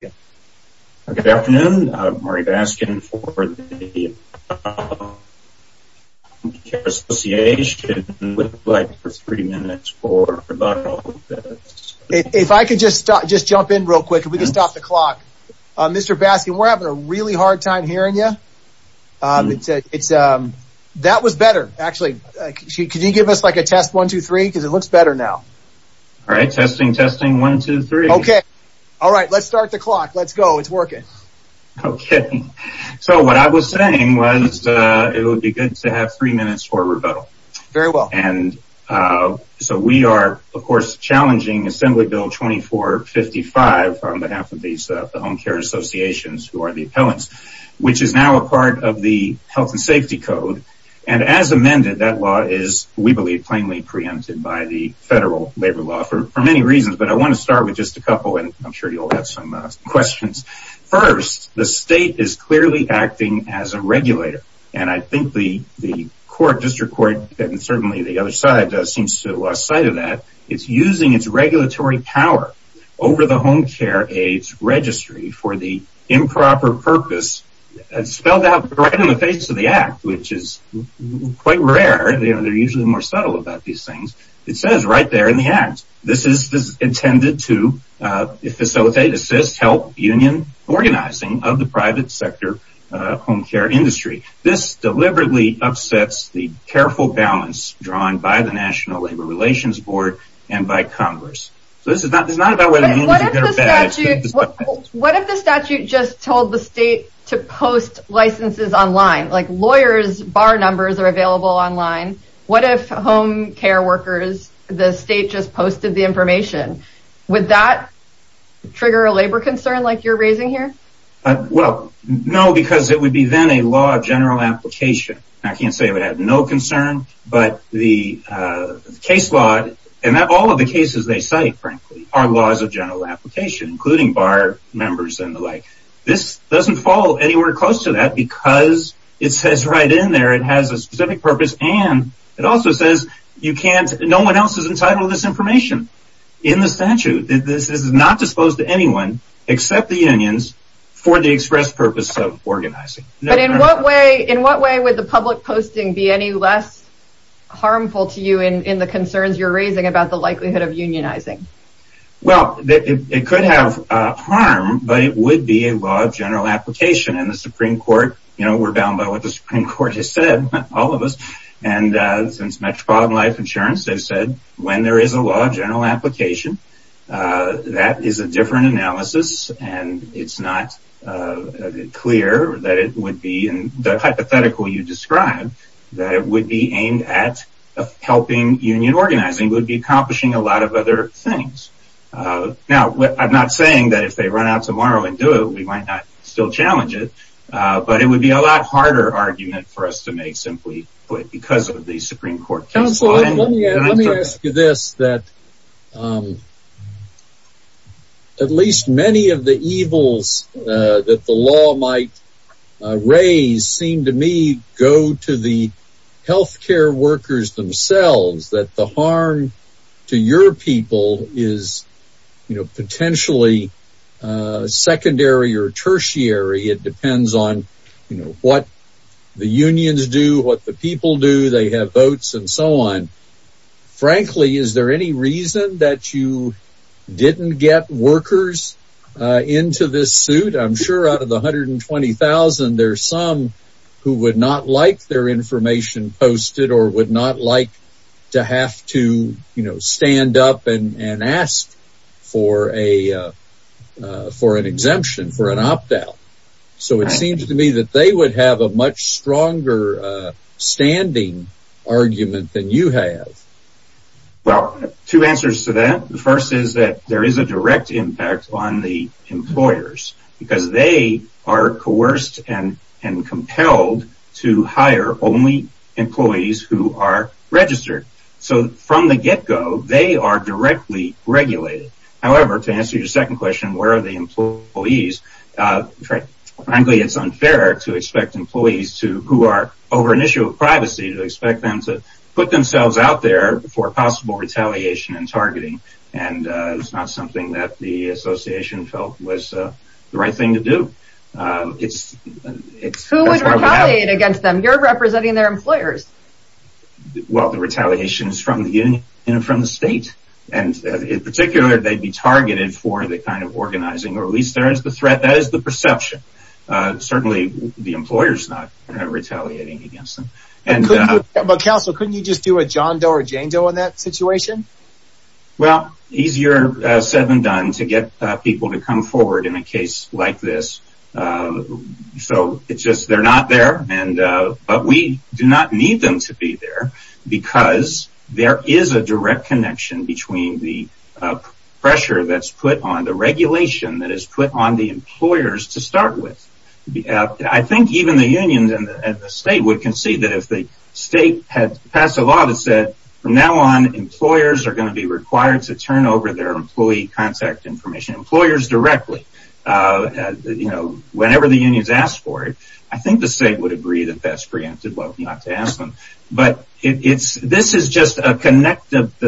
Good afternoon, I'm Marty Baskin for the Healthcare Association and would like for three minutes for about all of this. If I could just jump in real quick, if we could stop the clock. Mr. Baskin, we're having a really hard time hearing you. That was better, actually. Could you give us like a test, one, two, three, because it looks better now. All right, testing, testing, one, two, three. Okay. All right. Let's start the clock. Let's go. It's working. Okay. So what I was saying was, it would be good to have three minutes for rebuttal. Very well. And so we are, of course, challenging Assembly Bill 2455 on behalf of these Home Care Associations who are the appellants, which is now a part of the Health and Safety Code. And as amended, that law is, we believe, plainly preempted by the federal labor law for many reasons. But I want to start with just a couple, and I'm sure you'll have some questions. First, the state is clearly acting as a regulator. And I think the court, district court, and certainly the other side seems to have lost sight of that. It's using its regulatory power over the Home Care Aids Registry for the improper purpose. It's spelled out right on the face of the Act, which is quite rare. They're usually more subtle about these things. It says right there in the Act, this is intended to facilitate, assist, help union organizing of the private sector home care industry. This deliberately upsets the careful balance drawn by the National Labor Relations Board and by Congress. So this is not about whether it's good or bad. What if the statute just told the state to post licenses online, like lawyers bar numbers are available online? What if home care workers, the state just posted the information? Would that trigger a labor concern like you're raising here? Well, no, because it would be then a law of general application. I can't say it would have no concern, but the case law, and all of the cases they cite, frankly, are laws of general application, including bar numbers and the like. This doesn't fall anywhere close to that because it says right in there it has a specific purpose. And it also says you can't, no one else is entitled to this information in the statute. This is not disposed to anyone except the unions for the express purpose of organizing. But in what way, in what way would the public posting be any less harmful to you in the concerns you're raising about the likelihood of unionizing? Well, it could have harm, but it would be a law of general application. And the Supreme Court, you know, we're bound by what the Supreme Court has said, all of us. And since Metropolitan Life Insurance, they've said when there is a law of general application, that is a different analysis. And it's not clear that it would be, in the hypothetical you described, that it would be helping union organizing, it would be accomplishing a lot of other things. Now, I'm not saying that if they run out tomorrow and do it, we might not still challenge it. But it would be a lot harder argument for us to make simply because of the Supreme Court. Counsel, let me ask you this, that at least many of the evils that the law might raise seem to me go to the healthcare workers themselves, that the harm to your people is, you know, potentially secondary or tertiary, it depends on, you know, what the unions do, what the people do, they have votes and so on. Frankly, is there any reason that you didn't get workers into this suit? I'm sure out of the 120,000, there's some who would not like their information posted or would not like to have to, you know, stand up and ask for an exemption, for an opt out. So it seems to me that they would have a much stronger standing argument than you have. Well, two answers to that. The first is that there is a direct impact on the employers, because they are coerced and compelled to hire only employees who are registered. So from the get go, they are directly regulated. However, to answer your second question, where are the employees? Frankly, it's unfair to expect employees to, who are over an issue of privacy, to expect them to put themselves out there for possible retaliation and targeting. And it's not something that the association felt was the right thing to do. Who would retaliate against them? You're representing their employers. Well, the retaliation is from the union and from the state. And in particular, they'd be targeted for the kind of organizing, or at least there is the threat. That is the perception. Certainly, the employer's not retaliating against them. But counsel, couldn't you just do a John Doe or Jane Doe in that situation? Well, easier said than done to get people to come forward in a case like this. So it's just, they're not there. But we do not need them to be there, because there is a direct connection between the pressure that's put on the regulation that is put on the employers to start with. I think even the unions and the state would concede that if the state had passed a law that said, from now on, employers are going to be required to turn over their employee contact information, employers directly. Whenever the unions ask for it, I think the state would agree that that's the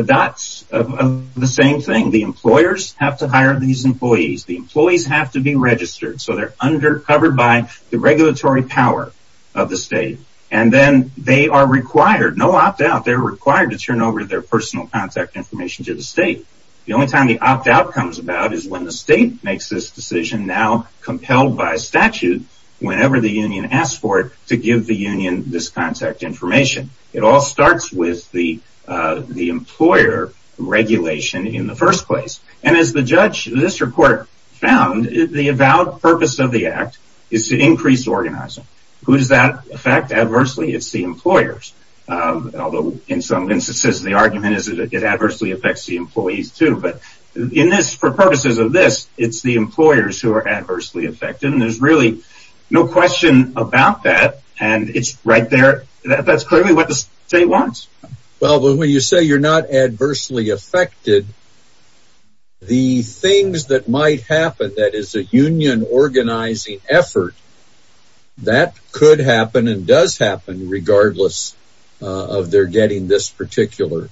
dots of the same thing. The employers have to hire these employees. The employees have to be registered. So they're under covered by the regulatory power of the state. And then they are required, no opt-out, they're required to turn over their personal contact information to the state. The only time the opt-out comes about is when the state makes this decision, now compelled by statute, whenever the union asks for it, to give the union this contact information. It all comes down to the employer regulation in the first place. And as the judge in this report found, the avowed purpose of the act is to increase organizing. Who does that affect adversely? It's the employers. Although in some instances, the argument is that it adversely affects the employees, too. But for purposes of this, it's the employers who are adversely affected. And there's really no question about that. And it's right there. That's clearly what the state wants. Well, when you say you're not adversely affected, the things that might happen that is a union organizing effort, that could happen and does happen regardless of their getting this particular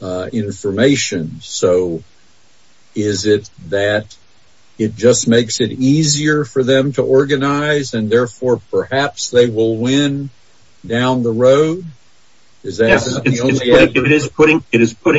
information. So is it that it just makes it easier for them to organize? And therefore, perhaps they will win down the road? It is putting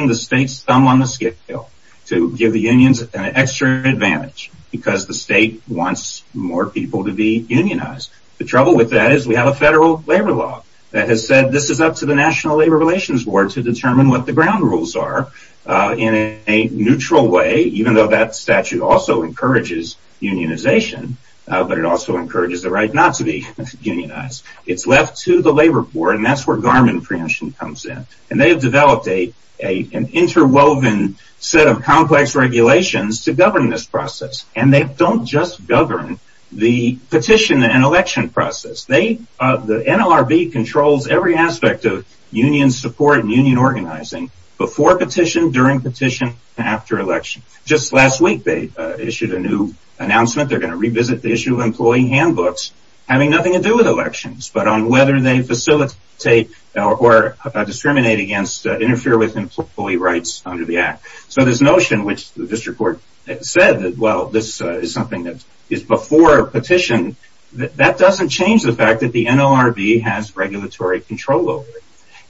the state's thumb on the scale to give the unions an extra advantage because the state wants more people to be unionized. The trouble with that is we have a federal labor law that has said this is up to the National Labor Relations Board to determine what the ground rules are in a neutral way, even though that statute also encourages unionization. But it also encourages the right not to be unionized. It's left to the labor board. And that's where Garmin preemption comes in. And they have developed an interwoven set of complex regulations to govern this process. And they don't just govern the petition and election process. The NLRB controls every aspect of union support and union organizing before petition, during petition, after election. Just last week, they issued a new announcement. They're going to revisit the issue of employee handbooks having nothing to do with elections, but on whether they facilitate or discriminate against, interfere with employee rights under the act. So this notion, which the district court said that, well, this is something that is before petition, that doesn't change the NLRB has regulatory control over it.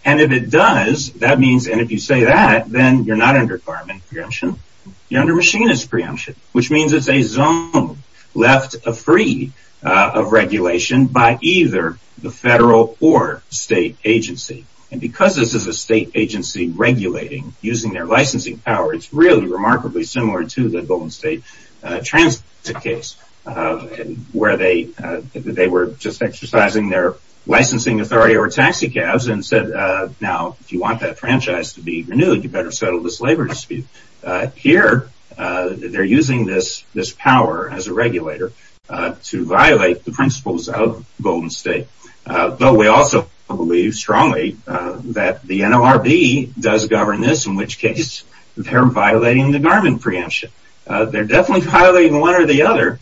And if it does, that means and if you say that, then you're not under Garmin preemption. You're under machinist preemption, which means it's a zone left free of regulation by either the federal or state agency. And because this is a state agency regulating using their licensing power, it's really remarkably similar to the Golden State transit case, where they were just exercising their licensing authority over taxicabs and said, now, if you want that franchise to be renewed, you better settle this labor dispute. Here, they're using this power as a regulator to violate the principles of Golden State. But we also believe strongly that the NLRB does govern this, in which case, they're violating the Garmin preemption. They're definitely violating one or the other,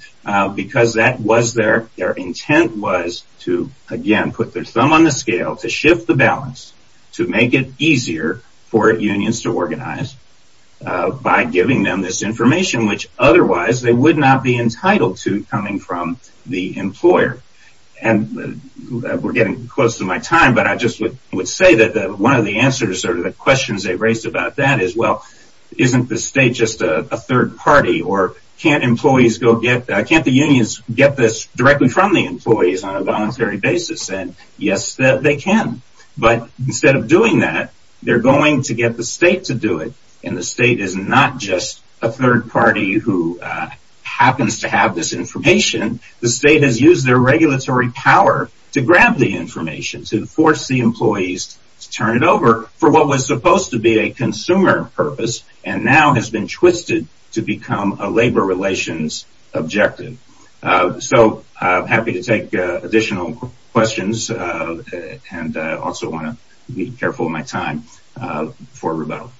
because that was their intent was to, again, put their thumb on the scale, to shift the balance, to make it easier for unions to organize by giving them this information, which otherwise, they would not be entitled to coming from the employer. And we're getting close to my time, but I just would say that one of the answers or the questions they raised about that is, well, isn't the state just a third party? Or can't the unions get this directly from the employees on a voluntary basis? And yes, they can. But instead of doing that, they're going to get the state to do it. And the state is not just a third party who happens to have this information. The state has used their regulatory power to grab the information, to force the employees to turn it over for what was supposed to be a consumer purpose, and now has been twisted to become a labor relations objective. So I'm happy to take additional questions. And I also want to be careful of my time for rebuttal.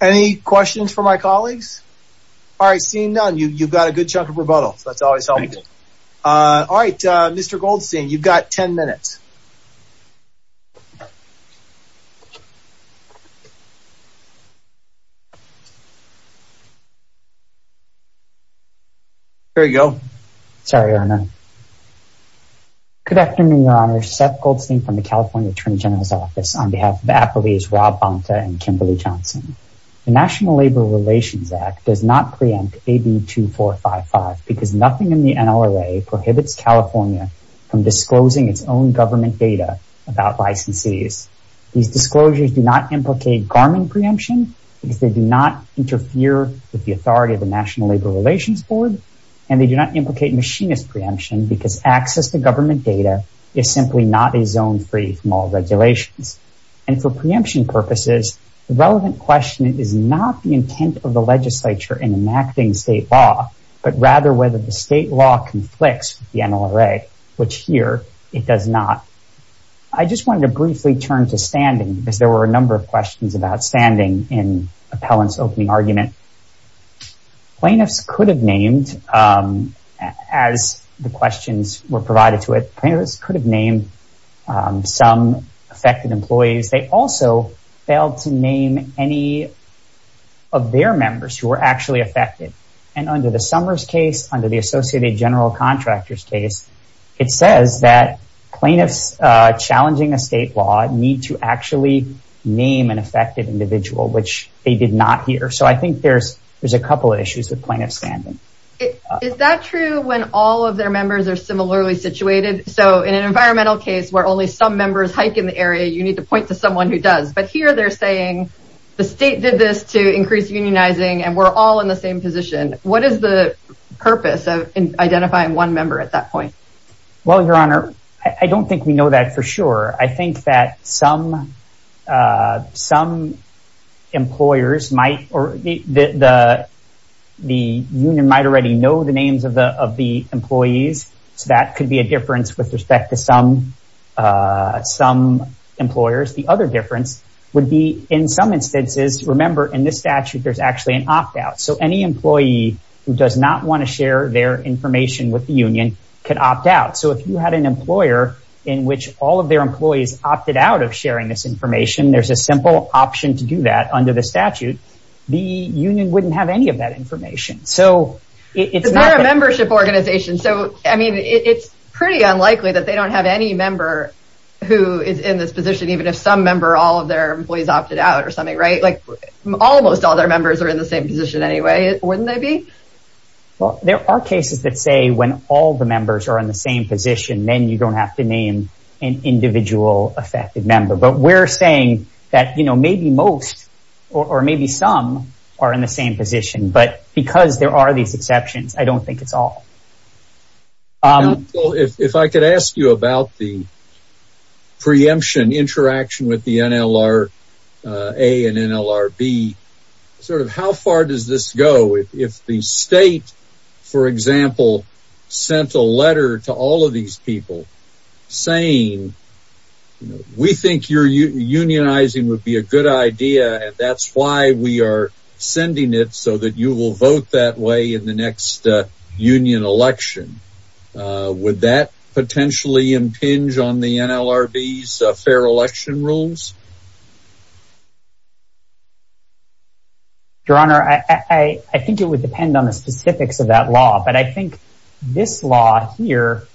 Any questions for my colleagues? All right, seeing none, you've got a good chunk of rebuttal. That's always helpful. All right, Mr. Goldstein, you've got 10 minutes. Here we go. Sorry, Your Honor. Good afternoon, Your Honor. Seth Goldstein from the California Attorney General's Office on behalf of Applebee's, Rob Bonta, and Kimberly Johnson. The National Labor Relations Act does not preempt AB 2455 because nothing in the NLRA prohibits California from disclosing its own government data about licensees. These disclosures do not implicate Garmin preemption because they do not interfere with the authority of the National Labor Relations Board. And they do not implicate machinist preemption because access to government data is simply not a zone free from all regulations. And for preemption purposes, the relevant question is not the intent of the legislature in enacting state law, but rather whether the state law conflicts with the NLRA, which here it does not. I just wanted to briefly turn to standing because there were a number of questions about standing in Appellant's opening argument. Plaintiffs could have named, as the questions were provided to it, plaintiffs could have named some affected employees. They also failed to name any of their members who were actually affected. And under the Summers case, under the Associated General Contractors case, it says that plaintiffs challenging a state law need to actually name an affected individual, which they did not hear. So I think there's a couple of issues with plaintiffs standing. Is that true when all of their members are similarly situated? So in an environmental case where only some members hike in the area, you need to point to someone who does. But here they're saying the state did this to increase unionizing, and we're all in the same position. What is the purpose of identifying one member at that point? Well, Your Honor, I don't think we know that for sure. I think that some employers might, or the union might already know the names of the employees. So that could be a difference with respect to some employers. The other difference would be in some instances, remember, in this statute, there's actually an opt out. So any employee who does not want to share their information with the union can opt out. So if you had an employer in which all of their employees opted out of sharing this information, there's a simple option to do that under the statute. The union wouldn't have any of that information. So it's not a membership organization. So I mean, it's pretty unlikely that they don't have any member who is in this position, even if some member, all of their employees opted out or something, right? Like, almost all their members are in the same position anyway, wouldn't they be? Well, there are cases that say when all the members are in the same position, then you don't have to name an individual affected member. But we're saying that, you know, maybe most or maybe some are in the same position. But because there are these exceptions, I don't think it's all. If I could ask you about the preemption interaction with the NLR, A and NLRB, sort of how far does this go? If the state, for example, sent a letter to all of these people saying, we think you're unionizing would be a good idea. And that's why we are sending it so you will vote that way in the next union election. Would that potentially impinge on the NLRB's fair election rules? Your Honor, I think it would depend on the specifics of that law. But I think this law here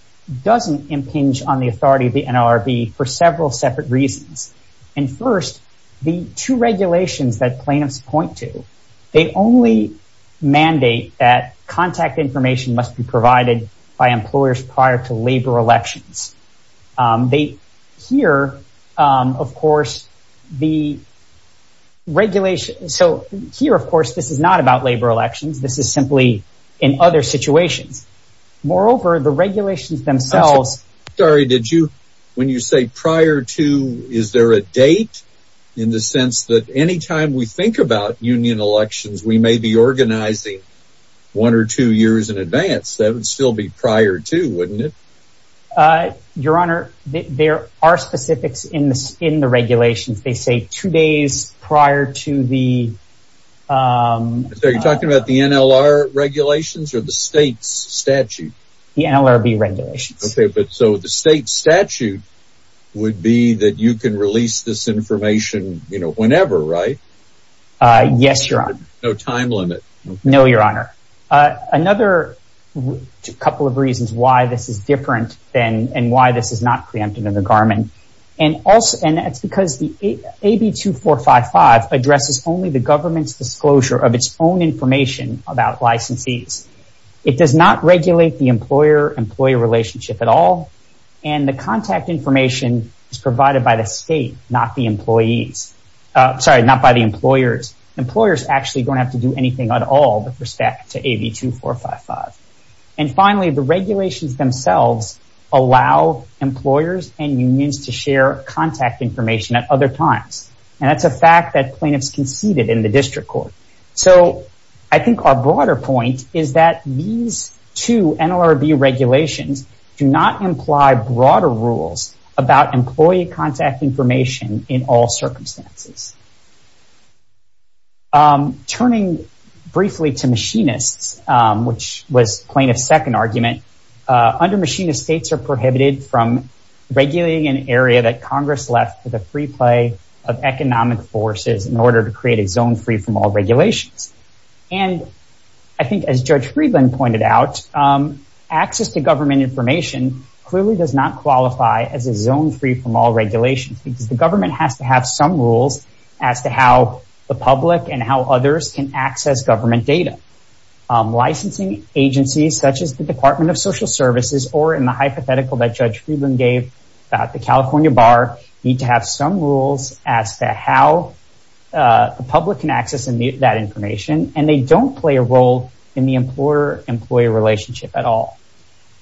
doesn't impinge on the authority of the NLRB for several separate reasons. And first, the two regulations that plaintiffs point to, they only mandate that contact information must be provided by employers prior to labor elections. They hear, of course, the regulation. So here, of course, this is not about labor elections. This is simply in other situations. Moreover, the regulations themselves. When you say prior to, is there a date in the sense that anytime we think about union elections, we may be organizing one or two years in advance, that would still be prior to, wouldn't it? Your Honor, there are specifics in the regulations. They say two days prior to the... You're talking about the NLR regulations or the state's statute? The NLRB regulations. Okay, but so the state statute would be that you can release this information whenever, right? Yes, Your Honor. No time limit? No, Your Honor. Another couple of reasons why this is different and why this is not preempted in the Garmin. And that's because the AB 2455 addresses only the government's disclosure of own information about licensees. It does not regulate the employer-employee relationship at all. And the contact information is provided by the state, not by the employers. Employers actually don't have to do anything at all with respect to AB 2455. And finally, the regulations themselves allow employers and unions to share contact information at other times. And that's a fact that plaintiffs conceded in the district court. So I think our broader point is that these two NLRB regulations do not imply broader rules about employee contact information in all circumstances. Turning briefly to machinists, which was plaintiff's second argument, under machinist states are prohibited from regulating an area that Congress left for the free play of economic forces in order to create a zone free from all regulations. And I think as Judge Friedland pointed out, access to government information clearly does not qualify as a zone free from all regulations because the government has to have some rules as to how the public and how others can access government data. Licensing agencies such as the Department of Social Services or in the hypothetical that Judge Friedland gave about the California bar need to have some rules as to how the public can access that information. And they don't play a role in the employer-employee relationship at all.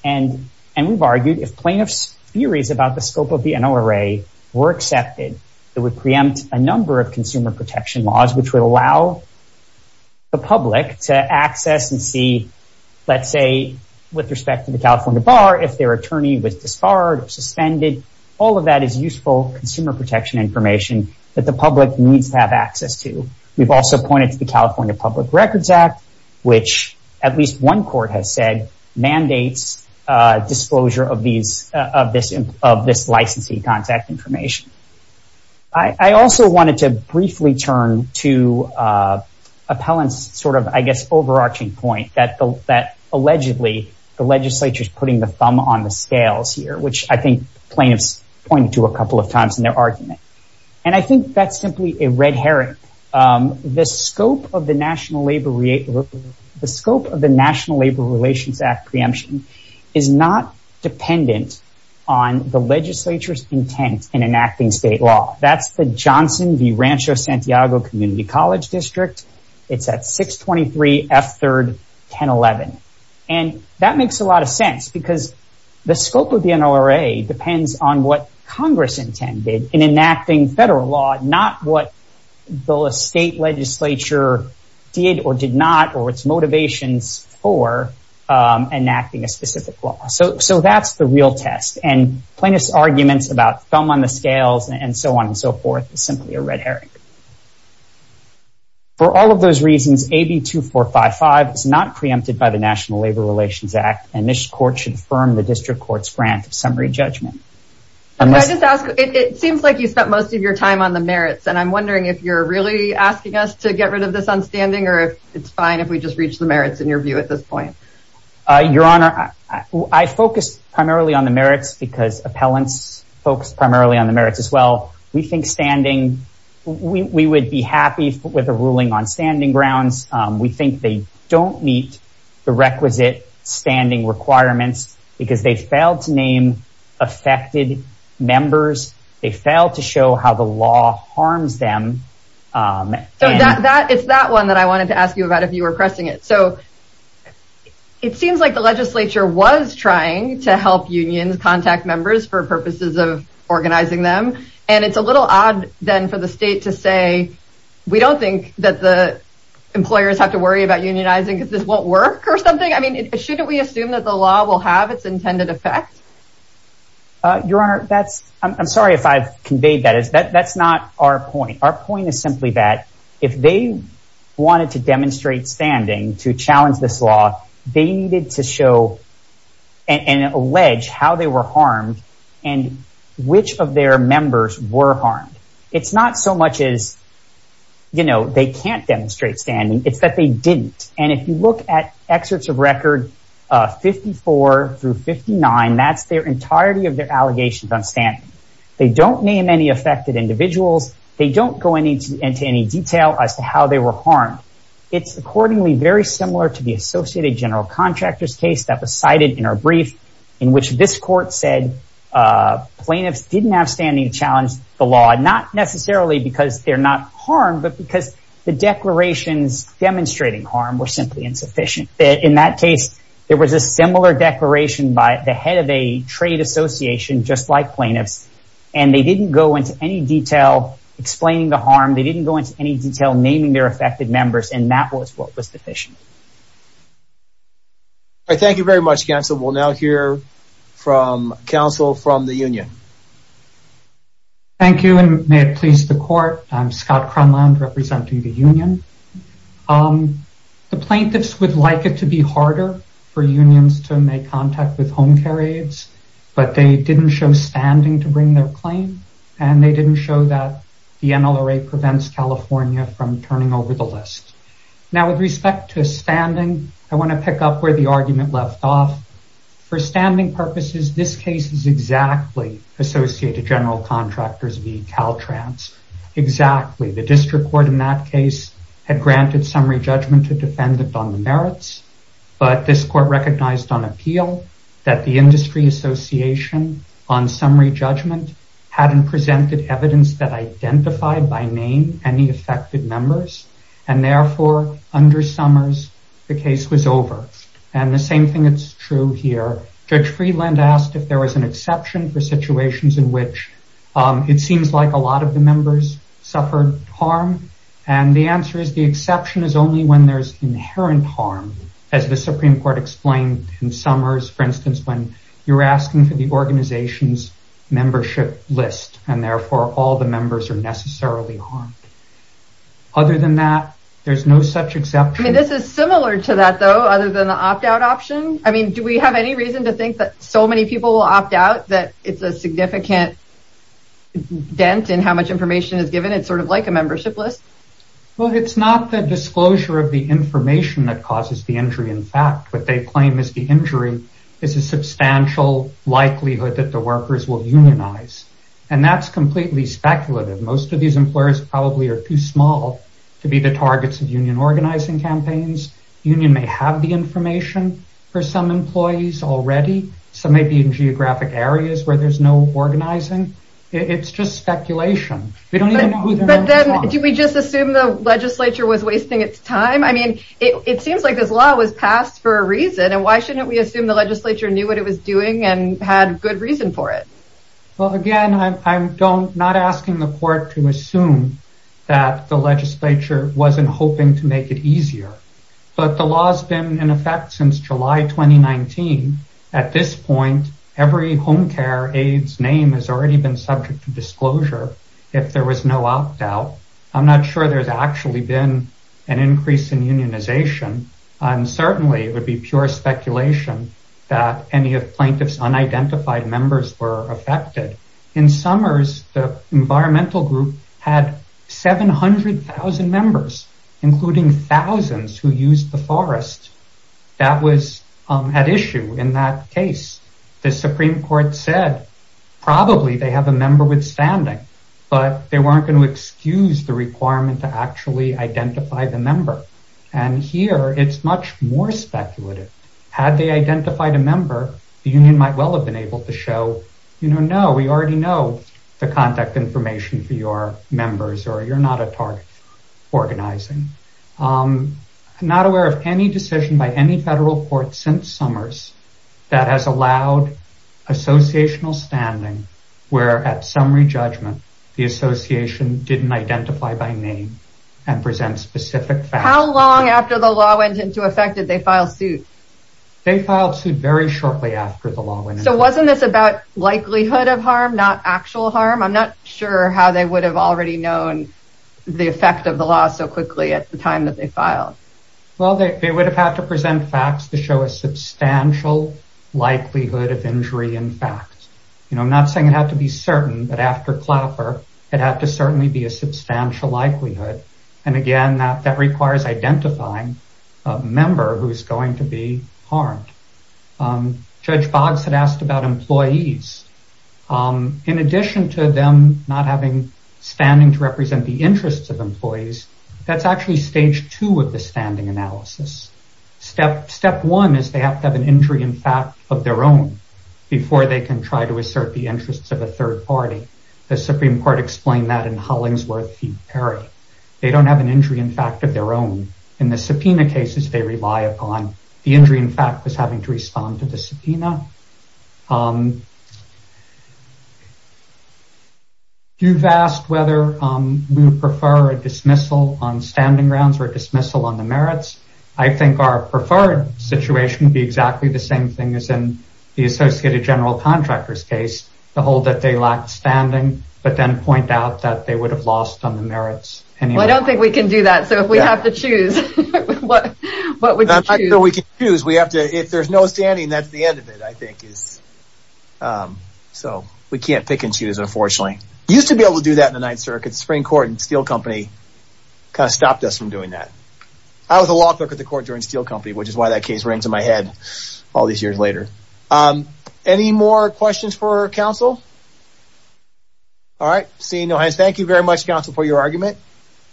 And we've argued if plaintiff's theories about the scope of the NLRA were accepted, it would preempt a number of consumer protection laws which would allow the public to access and see, let's say, with respect to the California bar, if their attorney was disbarred or suspended. All of that is useful consumer protection information that the public needs to have access to. We've also pointed to the California Public Records Act, which at least one court has said mandates disclosure of this licensing contact information. I also wanted to turn to Appellant's sort of, I guess, overarching point that allegedly the legislature is putting the thumb on the scales here, which I think plaintiffs pointed to a couple of times in their argument. And I think that's simply a red herring. The scope of the National Labor Relations Act preemption is not dependent on the legislature's intent in enacting state law. That's the Johnson v. Rancho Santiago Community College District. It's at 623 F3rd 1011. And that makes a lot of sense because the scope of the NLRA depends on what Congress intended in enacting federal law, not what the state legislature did or did not or its motivations for enacting a specific law. So that's the real test. And plaintiff's arguments about thumb on the scales and so on and so forth is simply a red herring. For all of those reasons, AB 2455 is not preempted by the National Labor Relations Act. And this court should affirm the district court's grant of summary judgment. Can I just ask, it seems like you spent most of your time on the merits. And I'm wondering if you're really asking us to get rid of this on standing or if it's fine if we just reach the merits in your view at this point? Your Honor, I focus primarily on the merits because Appellant's primarily on the merits as well. We think standing, we would be happy with a ruling on standing grounds. We think they don't meet the requisite standing requirements because they failed to name affected members. They failed to show how the law harms them. So it's that one that I wanted to ask you about if you were pressing it. So it seems like the legislature was trying to unions contact members for purposes of organizing them. And it's a little odd then for the state to say, we don't think that the employers have to worry about unionizing because this won't work or something. I mean, shouldn't we assume that the law will have its intended effect? Your Honor, I'm sorry if I've conveyed that. That's not our point. Our point is simply that if they wanted to demonstrate standing to challenge this law, they needed to show and allege how they were harmed and which of their members were harmed. It's not so much as, you know, they can't demonstrate standing. It's that they didn't. And if you look at excerpts of record 54 through 59, that's their entirety of their allegations on standing. They don't name any affected individuals. They don't go into any detail as to how they were harmed. It's accordingly very similar to the Associated General Contractors case that was cited in our brief, in which this court said plaintiffs didn't have standing to challenge the law, not necessarily because they're not harmed, but because the declarations demonstrating harm were simply insufficient. In that case, there was a similar declaration by the head of a association, just like plaintiffs, and they didn't go into any detail explaining the harm. They didn't go into any detail naming their affected members, and that was what was sufficient. Thank you very much, counsel. We'll now hear from counsel from the union. Thank you, and may it please the court. I'm Scott Cronlund representing the union. The plaintiffs would like it to be harder for unions to make contact with home care aides. They didn't show standing to bring their claim, and they didn't show that the NLRA prevents California from turning over the list. Now, with respect to standing, I want to pick up where the argument left off. For standing purposes, this case is exactly Associated General Contractors v. Caltrans. Exactly. The district court in that case had granted summary judgment to defendant on merits, but this court recognized on appeal that the industry association on summary judgment hadn't presented evidence that identified by name any affected members, and therefore, under Summers, the case was over. The same thing is true here. Judge Freeland asked if there was an exception for situations in which it seems like a lot of the members suffered harm. The exception is only when there's inherent harm, as the Supreme Court explained in Summers, for instance, when you're asking for the organization's membership list, and therefore, all the members are necessarily harmed. Other than that, there's no such exception. This is similar to that, though, other than the opt-out option. Do we have any reason to think that so many people will opt out that it's a significant dent in how much information is given? It's sort of like a disclosure of the information that causes the injury. In fact, what they claim is the injury is a substantial likelihood that the workers will unionize, and that's completely speculative. Most of these employers probably are too small to be the targets of union organizing campaigns. Union may have the information for some employees already. Some may be in geographic areas where there's no organizing. It's just speculation. Do we just assume the legislature was wasting its time? It seems like this law was passed for a reason, and why shouldn't we assume the legislature knew what it was doing and had good reason for it? Again, I'm not asking the court to assume that the legislature wasn't hoping to make it easier, but the law's been in effect since July 2019. At this point, every home care aide's name has already been subject to disclosure if there was no opt-out. I'm not sure there's actually been an increase in unionization, and certainly it would be pure speculation that any of plaintiffs' unidentified members were affected. In summers, the environmental group had 700,000 members, including thousands who used the ad issue in that case. The Supreme Court said probably they have a member withstanding, but they weren't going to excuse the requirement to actually identify the member. Here, it's much more speculative. Had they identified a member, the union might well have been able to show, you know, no, we already know the contact information for your members, or you're not a member. How long after the law went into effect did they file suit? They filed suit very shortly after the law went into effect. So wasn't this about likelihood of harm, not actual harm? I'm not sure how they would have already known the effect of the law so quickly at the time that they filed. Well, they would have had to present facts to show a substantial likelihood of injury in fact. You know, I'm not saying it had to be certain, but after Clapper, it had to certainly be a substantial likelihood. And again, that requires identifying a member who's going to be harmed. Judge Boggs had asked about employees. In addition to them not having standing to represent the analysis. Step one is they have to have an injury in fact of their own before they can try to assert the interests of a third party. The Supreme Court explained that in Hollingsworth v. Perry. They don't have an injury in fact of their own. In the subpoena cases they rely upon, the injury in fact was having to respond to the subpoena. You've asked whether we would prefer a dismissal on standing grounds or dismissal on the merits. I think our preferred situation would be exactly the same thing as in the Associated General Contractors case. The whole that they lack standing, but then point out that they would have lost on the merits. Well, I don't think we can do that. So if we have to choose, what would you choose? I'm not sure we can choose. If there's no standing, that's the end of it. I think so we can't pick and choose, unfortunately. Used to be able to do that in the Ninth Circuit. The Supreme Court and Steel Company kind of stopped us from doing that. I was a law clerk at the court during Steel Company, which is why that case rings in my head all these years later. Any more questions for counsel? All right, seeing no hands, thank you very much counsel for your argument.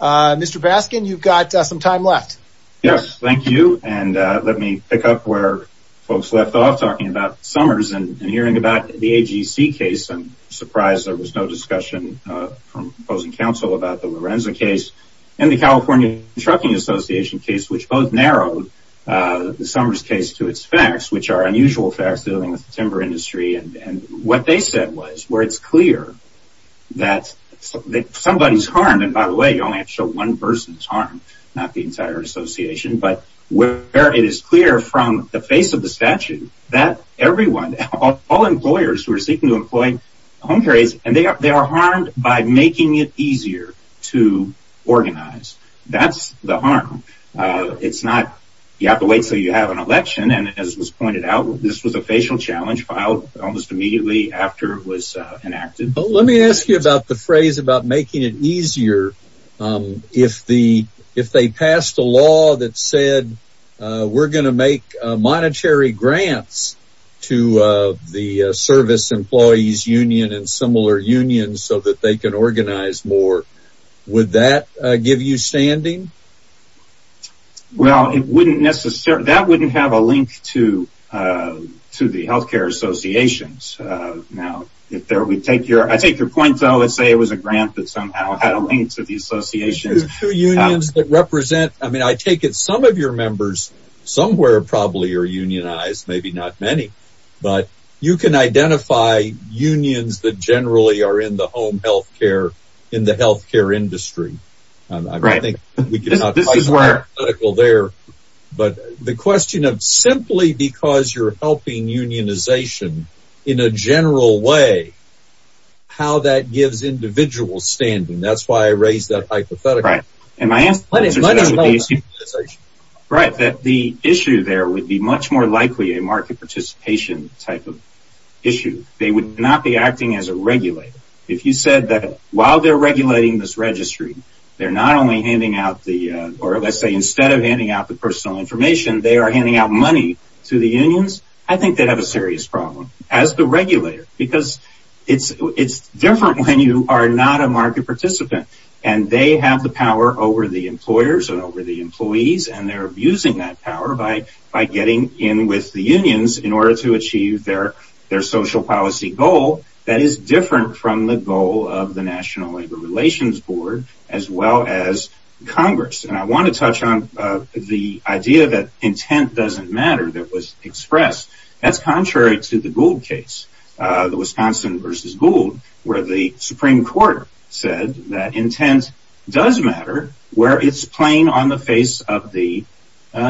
Mr. Baskin, you've got some time left. Yes, thank you. And let me pick up where folks left off, talking about Summers and hearing about the AGC case. I'm surprised there was no discussion from opposing counsel about the Lorenza case and the California Trucking Association case, which both narrowed the Summers case to its facts, which are unusual facts dealing with the timber industry. And what they said was where it's clear that somebody's harmed. And by the way, you only have to show one person's harm, not the entire association. But where it is clear from the face of the statute that everyone, all employers who are seeking to employ home carriers, and they are harmed by making it easier to organize. That's the harm. It's not you have to wait until you have an election. And as was pointed out, this was a facial challenge filed almost immediately after it was enacted. But let me ask you about the phrase about making it easier if they passed a law that said we're going to make monetary grants to the service employees union and similar unions so that they can organize more. Would that give you standing? Well, that wouldn't have a link to the healthcare associations. I take your point, let's say it was a grant that somehow had a link to the associations. I mean, I take it some of your members somewhere probably are unionized, maybe not many, but you can identify unions that generally are in the home healthcare in the healthcare industry. But the question of simply because you're helping unionization in a general way, how that gives individuals standing. That's why I raised that hypothetical. Right. The issue there would be much more likely a market participation type of issue. They would not be acting as a regulator. If you said that while they're regulating this registry, they're not only handing out the, or let's say instead of handing out the personal information, they are handing out money to the unions. I think they'd have a serious problem as the regulator, because it's different when you are not a market participant and they have the power over the employers and over the employees, and they're abusing that power by getting in with the unions in order to achieve their social policy goal. That is different from the goal of the National Labor Relations Board, as well as Congress. I want to touch on the idea that intent doesn't express. That's contrary to the Gould case. The Wisconsin versus Gould, where the Supreme Court said that intent does matter where it's plain on the face of the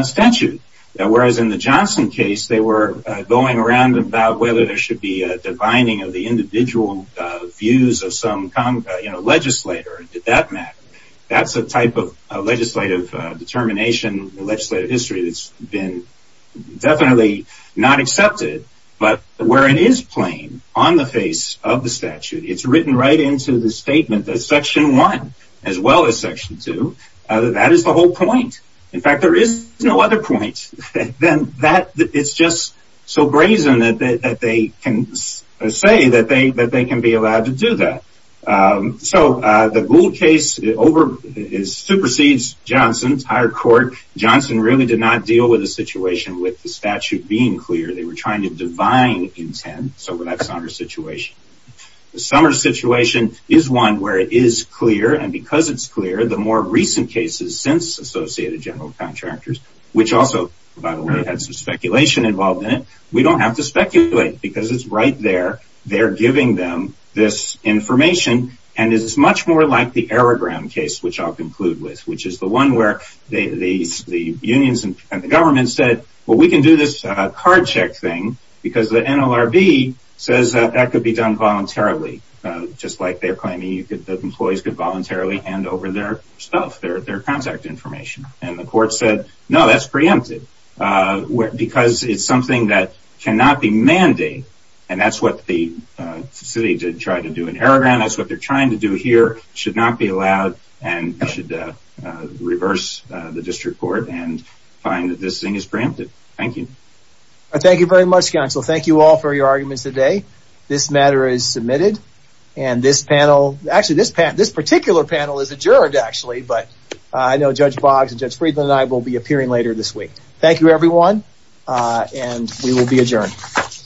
statute. Whereas in the Johnson case, they were going around about whether there should be a dividing of the individual views of some legislator. Did that matter? That's a type of legislative determination, legislative history that's been definitely not accepted, but where it is plain on the face of the statute, it's written right into the statement that Section 1, as well as Section 2, that is the whole point. In fact, there is no other point than that. It's just so brazen that they can say that they can be allowed to do that. So the Gould case supersedes Johnson's higher court. Johnson really did not deal with the situation with the statute being clear. They were trying to divide intent, so that's not our situation. The Summers situation is one where it is clear, and because it's clear, the more recent cases since Associated General Contractors, which also, by the way, had some speculation involved in it, we don't have to speculate because it's right there. They're giving them this information, and it's much more like the Aerogram case, which I'll conclude with, which is the one where the unions and the government said, well, we can do this card check thing because the NLRB says that that could be done voluntarily, just like they're claiming that employees could voluntarily hand over their stuff, their contact information, and the court said, no, that's preempted because it's something that cannot be mandated, and that's what the city did try to do in Aerogram. That's what they're trying to do here. It should not be allowed, and they should reverse the district court and find that this thing is preempted. Thank you. Thank you very much, counsel. Thank you all for your arguments today. This matter is submitted, and this panel, actually, this particular panel is adjourned, actually, but I know Judge Boggs and Judge Friedland and I will be appearing later this week. Thank you, everyone, and we will be adjourned.